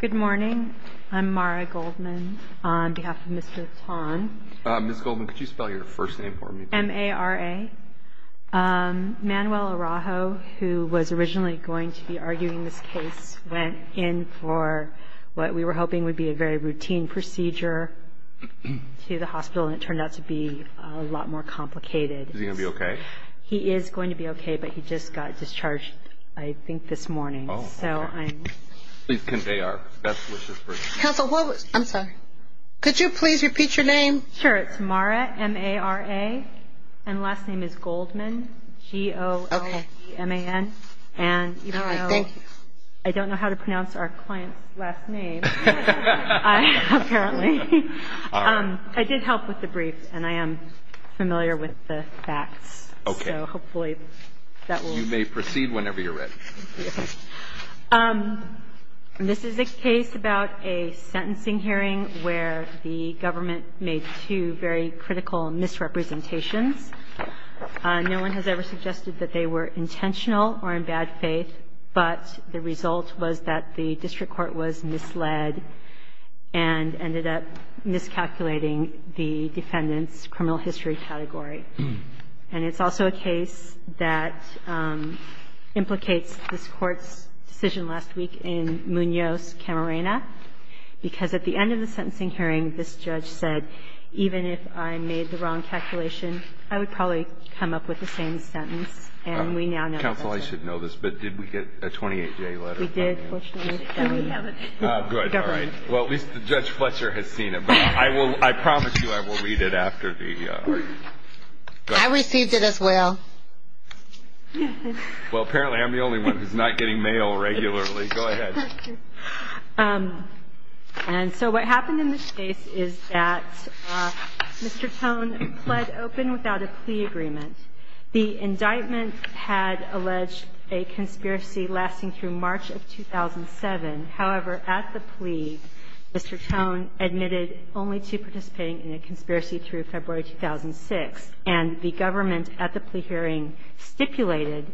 Good morning. I'm Mara Goldman on behalf of Mr. Ahn. Ms. Goldman, could you spell your first name for me? M-A-R-A. Manuel Araujo, who was originally going to be arguing this case, went in for what we were hoping would be a very routine procedure to the hospital, and it turned out to be a lot more complicated. Is he going to be okay? He is going to be okay, but he just got discharged, I think, this morning. Please convey our best wishes for him. Counsel, what was – I'm sorry. Could you please repeat your name? Sure. It's Mara, M-A-R-A, and last name is Goldman, G-O-L-D-M-A-N. And even though I don't know how to pronounce our client's last name, apparently, I did help with the brief, and I am familiar with the facts. Okay. So hopefully that will – You may proceed whenever you're ready. Okay. This is a case about a sentencing hearing where the government made two very critical misrepresentations. No one has ever suggested that they were intentional or in bad faith, but the result was that the district court was misled and ended up miscalculating the defendant's criminal history category. And it's also a case that implicates this Court's decision last week in Munoz, Camarena, because at the end of the sentencing hearing, this judge said, even if I made the wrong calculation, I would probably come up with the same sentence, and we now know the answer. Counsel, I should know this, but did we get a 28-day letter from him? We did, fortunately. And we haven't. Good. All right. Well, at least Judge Fletcher has seen it. I will – I promise you I will read it after the – I received it as well. Well, apparently I'm the only one who's not getting mail regularly. Go ahead. Thank you. And so what happened in this case is that Mr. Tone pled open without a plea agreement. The indictment had alleged a conspiracy lasting through March of 2007. However, at the plea, Mr. Tone admitted only to participating in a conspiracy through February 2006, and the government at the plea hearing stipulated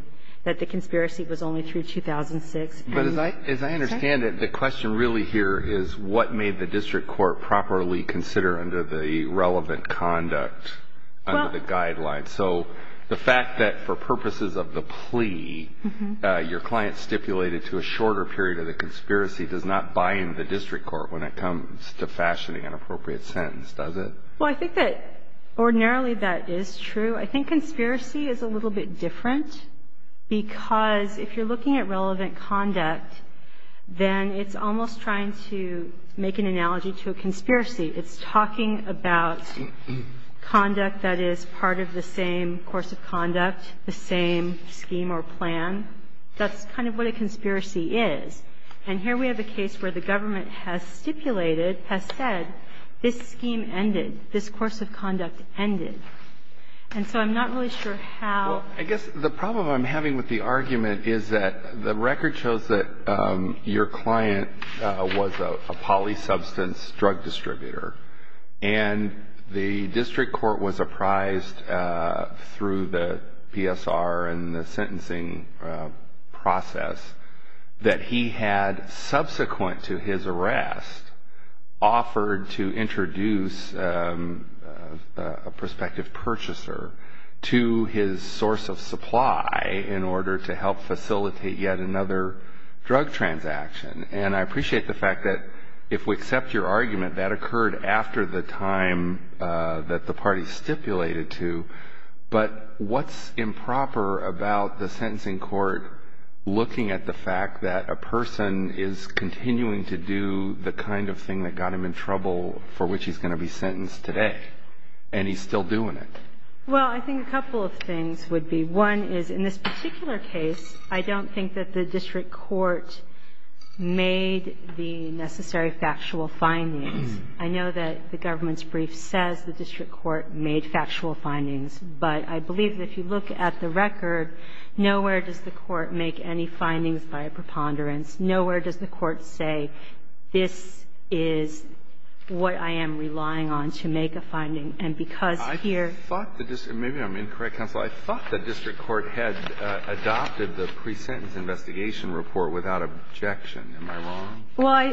that the conspiracy was only through 2006. But as I understand it, the question really here is what made the district court properly consider under the relevant conduct, under the guidelines. And so the fact that for purposes of the plea, your client stipulated to a shorter period of the conspiracy does not buy into the district court when it comes to fashioning an appropriate sentence, does it? Well, I think that ordinarily that is true. I think conspiracy is a little bit different, because if you're looking at relevant conduct, then it's almost trying to make an analogy to a conspiracy. It's talking about conduct that is part of the same course of conduct, the same scheme or plan. That's kind of what a conspiracy is. And here we have a case where the government has stipulated, has said, this scheme ended, this course of conduct ended. And so I'm not really sure how. Well, I guess the problem I'm having with the argument is that the record shows that your client was a polysubstance drug distributor. And the district court was apprised through the PSR and the sentencing process that he had subsequent to his arrest offered to introduce a prospective purchaser to his source of supply in order to help facilitate yet another drug transaction. And I appreciate the fact that if we accept your argument, that occurred after the time that the party stipulated to. But what's improper about the sentencing court looking at the fact that a person is continuing to do the kind of thing that got him in trouble for which he's going to be sentenced today, and he's still doing it? Well, I think a couple of things would be. One is, in this particular case, I don't think that the district court made the necessary factual findings. I know that the government's brief says the district court made factual findings, but I believe that if you look at the record, nowhere does the court make any findings by a preponderance. Nowhere does the court say, this is what I am relying on to make a finding. And because here the district court had adopted the pre-sentence investigation report without objection, am I wrong? Well,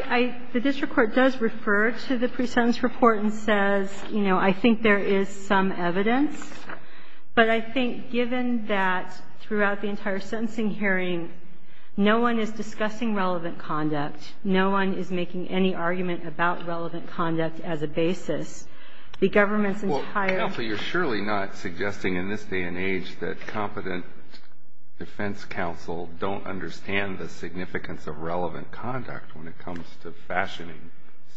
the district court does refer to the pre-sentence report and says, you know, I think there is some evidence. But I think given that throughout the entire sentencing hearing, no one is discussing relevant conduct, no one is making any argument about relevant conduct as a basis, the government's entire... Counsel, you're surely not suggesting in this day and age that competent defense counsel don't understand the significance of relevant conduct when it comes to fashioning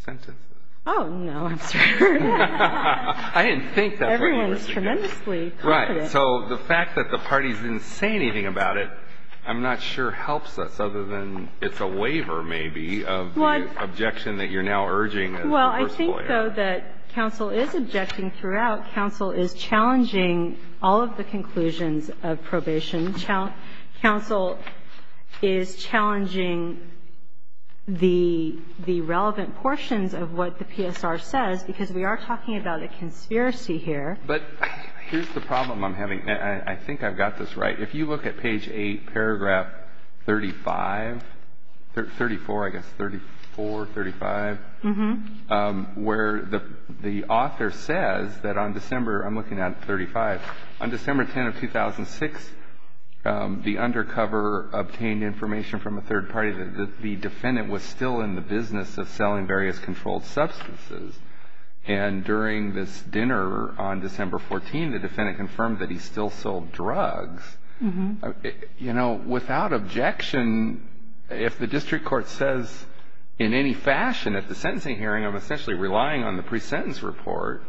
sentences. Oh, no. I'm sorry. I didn't think that's what you were thinking. Everyone is tremendously competent. Right. So the fact that the parties didn't say anything about it, I'm not sure helps us, other than it's a waiver, maybe, of the objection that you're now urging. Well, I think, though, that counsel is objecting throughout. Counsel is challenging all of the conclusions of probation. Counsel is challenging the relevant portions of what the PSR says, because we are talking about a conspiracy here. But here's the problem I'm having. I think I've got this right. If you look at page 8, paragraph 35, 34, I guess, 34, 35, where the author says that on December, I'm looking at 35, on December 10 of 2006, the undercover obtained information from a third party that the defendant was still in the business of selling various controlled substances. And during this dinner on December 14, the defendant confirmed that he still sold drugs. You know, without objection, if the district court says in any fashion at the sentencing hearing, I'm essentially relying on the presentence report,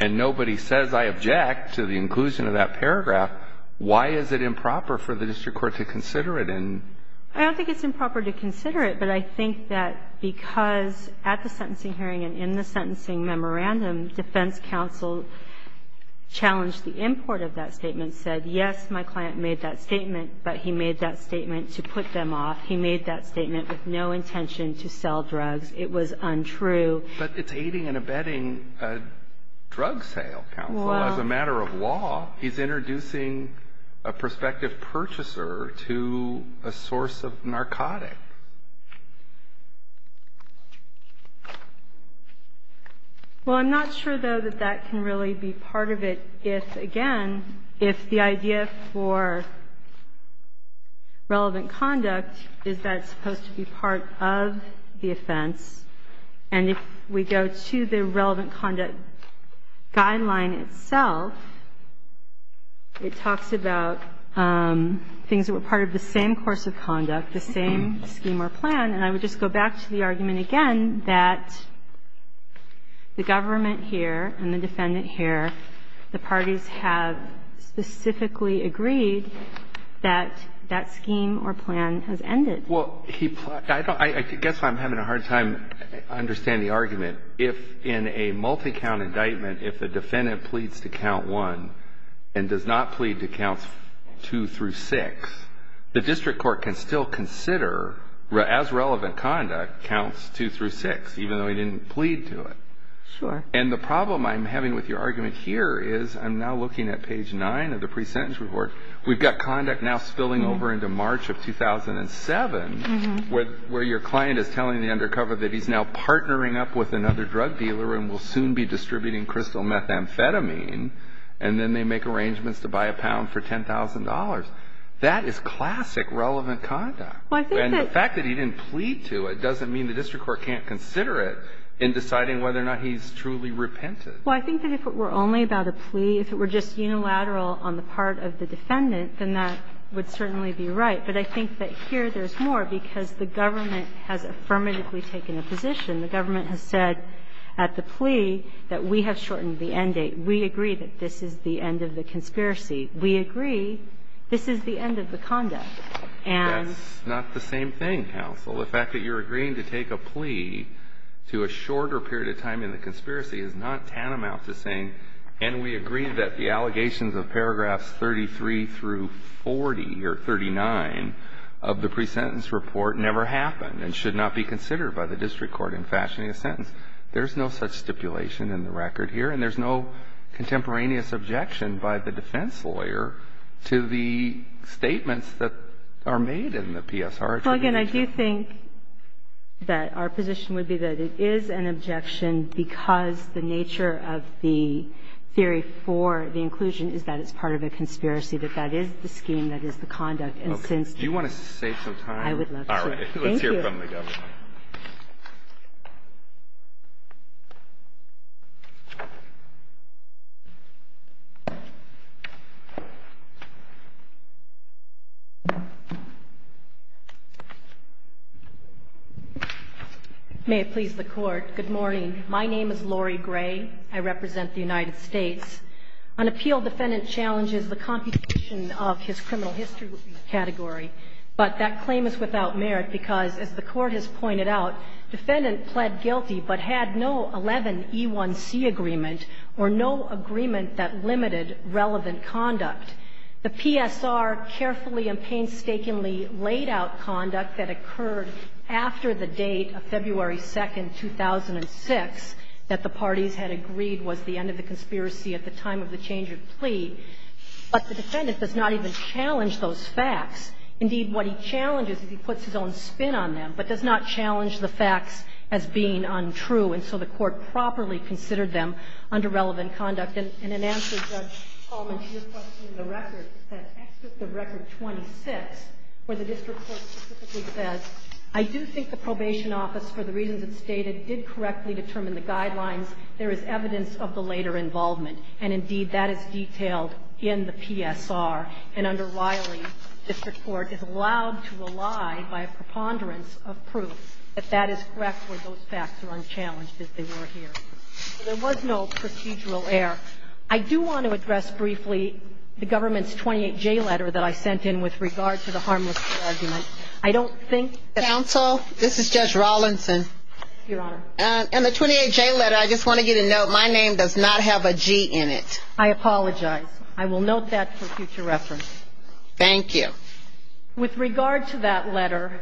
and nobody says I object to the inclusion of that paragraph, why is it improper for the district court to consider it? I don't think it's improper to consider it, but I think that because at the sentencing hearing and in the sentencing memorandum, defense counsel challenged the import of that statement, said yes, my client made that statement, but he made that statement to put them off. He made that statement with no intention to sell drugs. It was untrue. But it's aiding and abetting a drug sale, counsel, as a matter of law. He's introducing a prospective purchaser to a source of narcotics. Well, I'm not sure, though, that that can really be part of it if, again, if the idea for relevant conduct is that it's supposed to be part of the offense, and if we go to the relevant conduct guideline itself, it talks about things that were part of the same course of conduct, the same scheme or plan. And I would just go back to the argument again that the government here and the defendant here, the parties have specifically agreed that that scheme or plan has ended. Well, I guess I'm having a hard time understanding the argument. If in a multi-count indictment, if a defendant pleads to count one and does not plead to counts two through six, the district court can still consider, as relevant conduct, counts two through six, even though he didn't plead to it. Sure. And the problem I'm having with your argument here is I'm now looking at page nine of the pre-sentence report. We've got conduct now spilling over into March of 2007, where your client is telling the undercover that he's now partnering up with another drug dealer and will soon be distributing crystal methamphetamine, and then they make arrangements to buy a pound for $10,000. That is classic relevant conduct. Well, I think that the fact that he didn't plead to it doesn't mean the district court can't consider it in deciding whether or not he's truly repented. Well, I think that if it were only about a plea, if it were just unilateral on the part of the defendant, then that would certainly be right. But I think that here there's more because the government has affirmatively taken a position. The government has said at the plea that we have shortened the end date. We agree that this is the end of the conspiracy. We agree this is the end of the conduct. And that's not the same thing, counsel. The fact that you're agreeing to take a plea to a shorter period of time in the conspiracy is not tantamount to saying, and we agree that the allegations of paragraphs 33 through 40 or 39 of the pre-sentence report never happened and should not be considered by the district court in fashioning a sentence. There's no such stipulation in the record here. And there's no contemporaneous objection by the defense lawyer to the statements that are made in the PSR attribution. Well, again, I do think that our position would be that it is an objection because the nature of the theory for the inclusion is that it's part of a conspiracy, that that is the scheme, that is the conduct. And since you want to save some time. I would love to. Thank you. May it please the Court. Good morning. My name is Lori Gray. I represent the United States. An appeal defendant challenges the computation of his criminal history category. But that claim is without merit because, as the Court has pointed out, the defendant pled guilty but had no 11E1C agreement or no agreement that limited relevant conduct. The PSR carefully and painstakingly laid out conduct that occurred after the date of February 2, 2006, that the parties had agreed was the end of the conspiracy at the time of the change of plea. But the defendant does not even challenge those facts. Indeed, what he challenges is he puts his own spin on them, but does not challenge the facts as being untrue, and so the Court properly considered them under relevant conduct. And in answer, Judge Coleman, to your question of the record, the record 26, where the district court specifically says, I do think the probation office, for the reasons it stated, did correctly determine the guidelines. There is evidence of the later involvement. And indeed, that is detailed in the PSR. And under Riley, district court is allowed to rely by a preponderance of proof that that is correct where those facts are unchallenged, as they were here. So there was no procedural error. I do want to address briefly the government's 28J letter that I sent in with regard to the harmlessness argument. I don't think that the 28J letter, I just want to get a note. My name does not have a G in it. I apologize. I will note that for future reference. Thank you. With regard to that letter,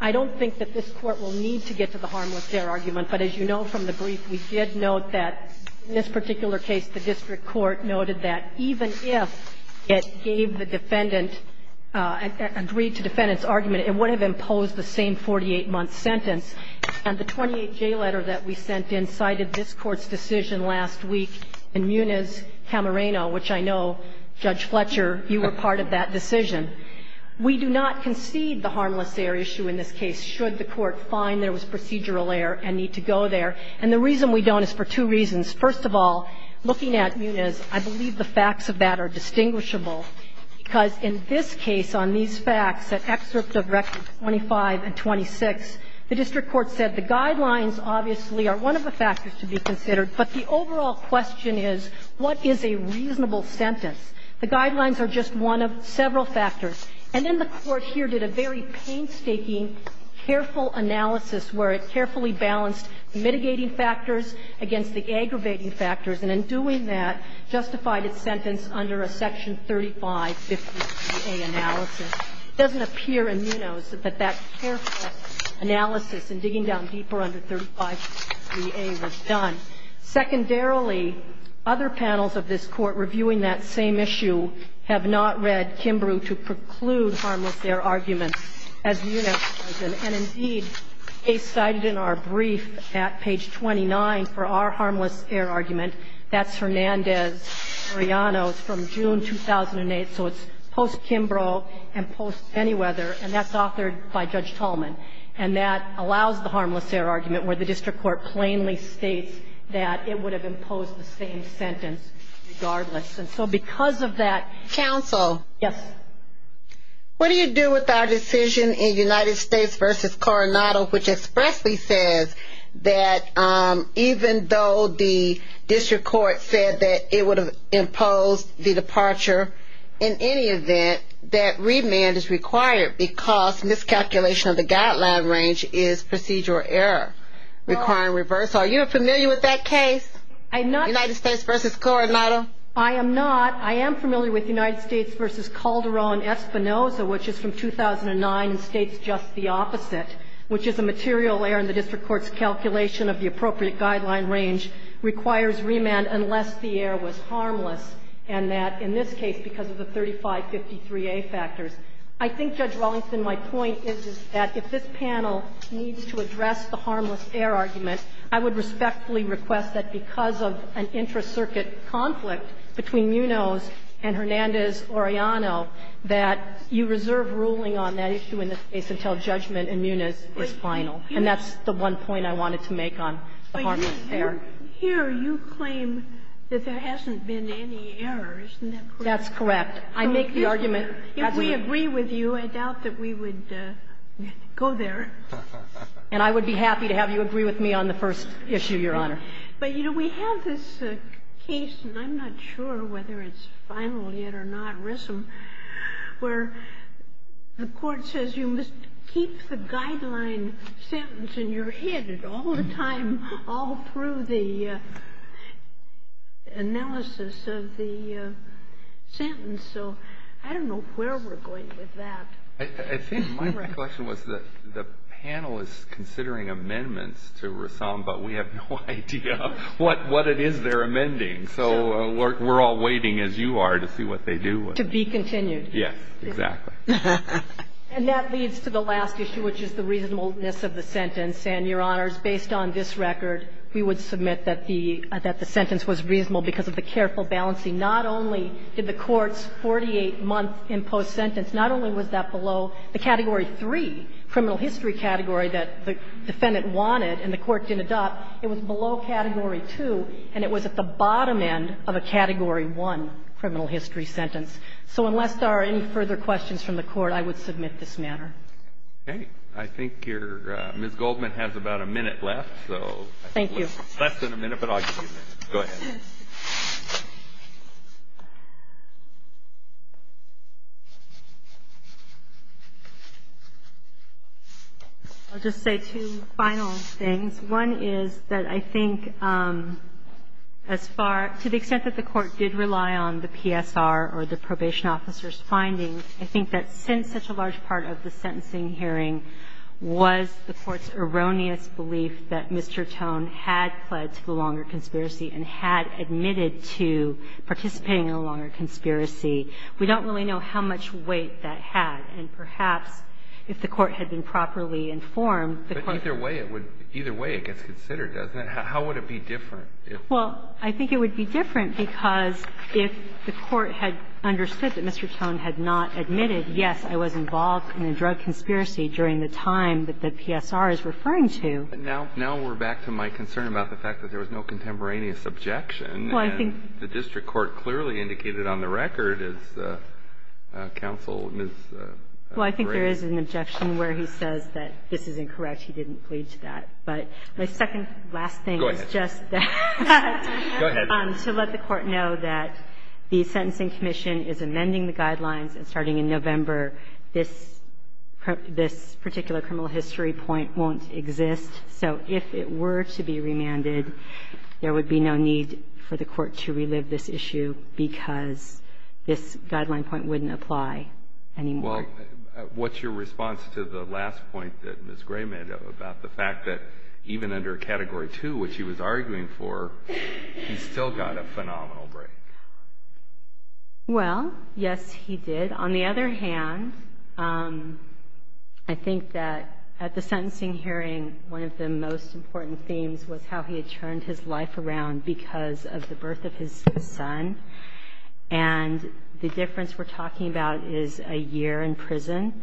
I don't think that this Court will need to get to the harmlessness argument. But as you know from the brief, we did note that in this particular case, the district court noted that even if it gave the defendant, agreed to the defendant's argument, it would have imposed the same 48-month sentence. And the 28J letter that we sent in cited this Court's decision last week in Muniz-Camarena, which I know, Judge Fletcher, you were part of that decision. We do not concede the harmless error issue in this case, should the Court find there was procedural error and need to go there. And the reason we don't is for two reasons. First of all, looking at Muniz, I believe the facts of that are distinguishable, because in this case, on these facts, at excerpt of Rectum 25 and 26, the district court said the guidelines obviously are one of the factors to be considered, but the overall question is, what is a reasonable sentence? The guidelines are just one of several factors. And then the Court here did a very painstaking, careful analysis where it carefully balanced mitigating factors against the aggravating factors. And in doing that, justified its sentence under a section 3550a analysis. It doesn't appear in Muniz that that careful analysis and digging down deeper under 3550a was done. Secondarily, other panels of this Court reviewing that same issue have not read Kimbrough to preclude harmless error arguments as Muniz has done. And, indeed, they cited in our brief at page 29 for our harmless error argument that's Hernandez-Orellano's from June 2008. So it's post-Kimbrough and post-Bennyweather, and that's authored by Judge Tolman. And that allows the harmless error argument where the district court plainly states that it would have imposed the same sentence regardless. And so because of that ---- Counsel. Yes. What do you do with our decision in United States v. Coronado, which expressly says that even though the district court said that it would have imposed the departure, in any event, that remand is required because miscalculation of the guideline range is procedural error, requiring reverse. Are you familiar with that case? United States v. Coronado? I am not. I am familiar with United States v. Calderon-Espinosa, which is from 2009, and states just the opposite, which is a material error in the district court's calculation of the appropriate guideline range requires remand unless the error was harmless, and that, in this case, because of the 3553A factors. I think, Judge Wallington, my point is that if this panel needs to address the harmless error argument, I would respectfully request that because of an intra-circuit conflict between Munoz and Hernandez-Oriano, that you reserve ruling on that issue in this case until judgment in Munoz is final, and that's the one point I wanted to make on the harmless error. But here you claim that there hasn't been any error. Isn't that correct? That's correct. I make the argument that we agree with you. I doubt that we would go there. And I would be happy to have you agree with me on the first issue, Your Honor. But, you know, we have this case, and I'm not sure whether it's final yet or not, Rissom, where the court says you must keep the guideline sentence in your head all the time, all through the analysis of the sentence. So I don't know where we're going with that. I think my recollection was that the panel is considering amendments to Rissom, but we have no idea what it is they're amending. So we're all waiting, as you are, to see what they do. To be continued. Yes, exactly. And that leads to the last issue, which is the reasonableness of the sentence. And, Your Honors, based on this record, we would submit that the sentence was reasonable because of the careful balancing. Not only did the courts, 48 months in post-sentence, not only was that below the category 3 criminal history category that the defendant wanted and the court didn't adopt, it was below category 2, and it was at the bottom end of a category 1 criminal history sentence. So unless there are any further questions from the Court, I would submit this matter. Okay. I think your Ms. Goldman has about a minute left. Thank you. Less than a minute, but I'll give you a minute. Go ahead. I'll just say two final things. One is that I think as far, to the extent that the Court did rely on the PSR or the probation officer's findings, I think that since such a large part of the sentencing hearing was the Court's erroneous belief that Mr. Tone had pled to the longer conspiracy and had admitted to participating in a longer conspiracy, we don't really know how much weight that had. And perhaps if the Court had been properly informed, the Court would have been more concerned. But either way, it would be considered, doesn't it? How would it be different? Well, I think it would be different because if the Court had understood that Mr. Tone had not admitted, yes, I was involved in a drug conspiracy during the time that the PSR is referring to. Now we're back to my concern about the fact that there was no contemporaneous objection. And the district court clearly indicated on the record, as counsel, Ms. Gray. Well, I think there is an objection where he says that this is incorrect. He didn't plead to that. But my second last thing is just that. Go ahead. Well, what's your response to the last point that Ms. Gray made about the fact that even under category two, which he was arguing for, he still got a phenomenal break? Well, yes, he did. On the other hand, I think that at the sentencing hearing, one of the most important themes was how he had turned his life around because of the birth of his son, and the difference we're talking about is a year in prison,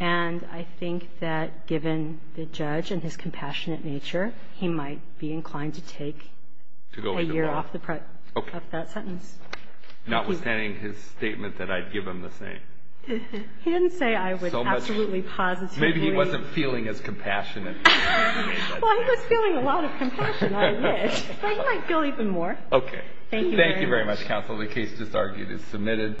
and I think that given the judge and his compassionate nature, he might be notwithstanding his statement that I'd give him the same. He didn't say I was absolutely positive. Maybe he wasn't feeling as compassionate. Well, he was feeling a lot of compassion, I wish, but he might feel even more. Okay. Thank you very much, counsel. The case just argued is submitted.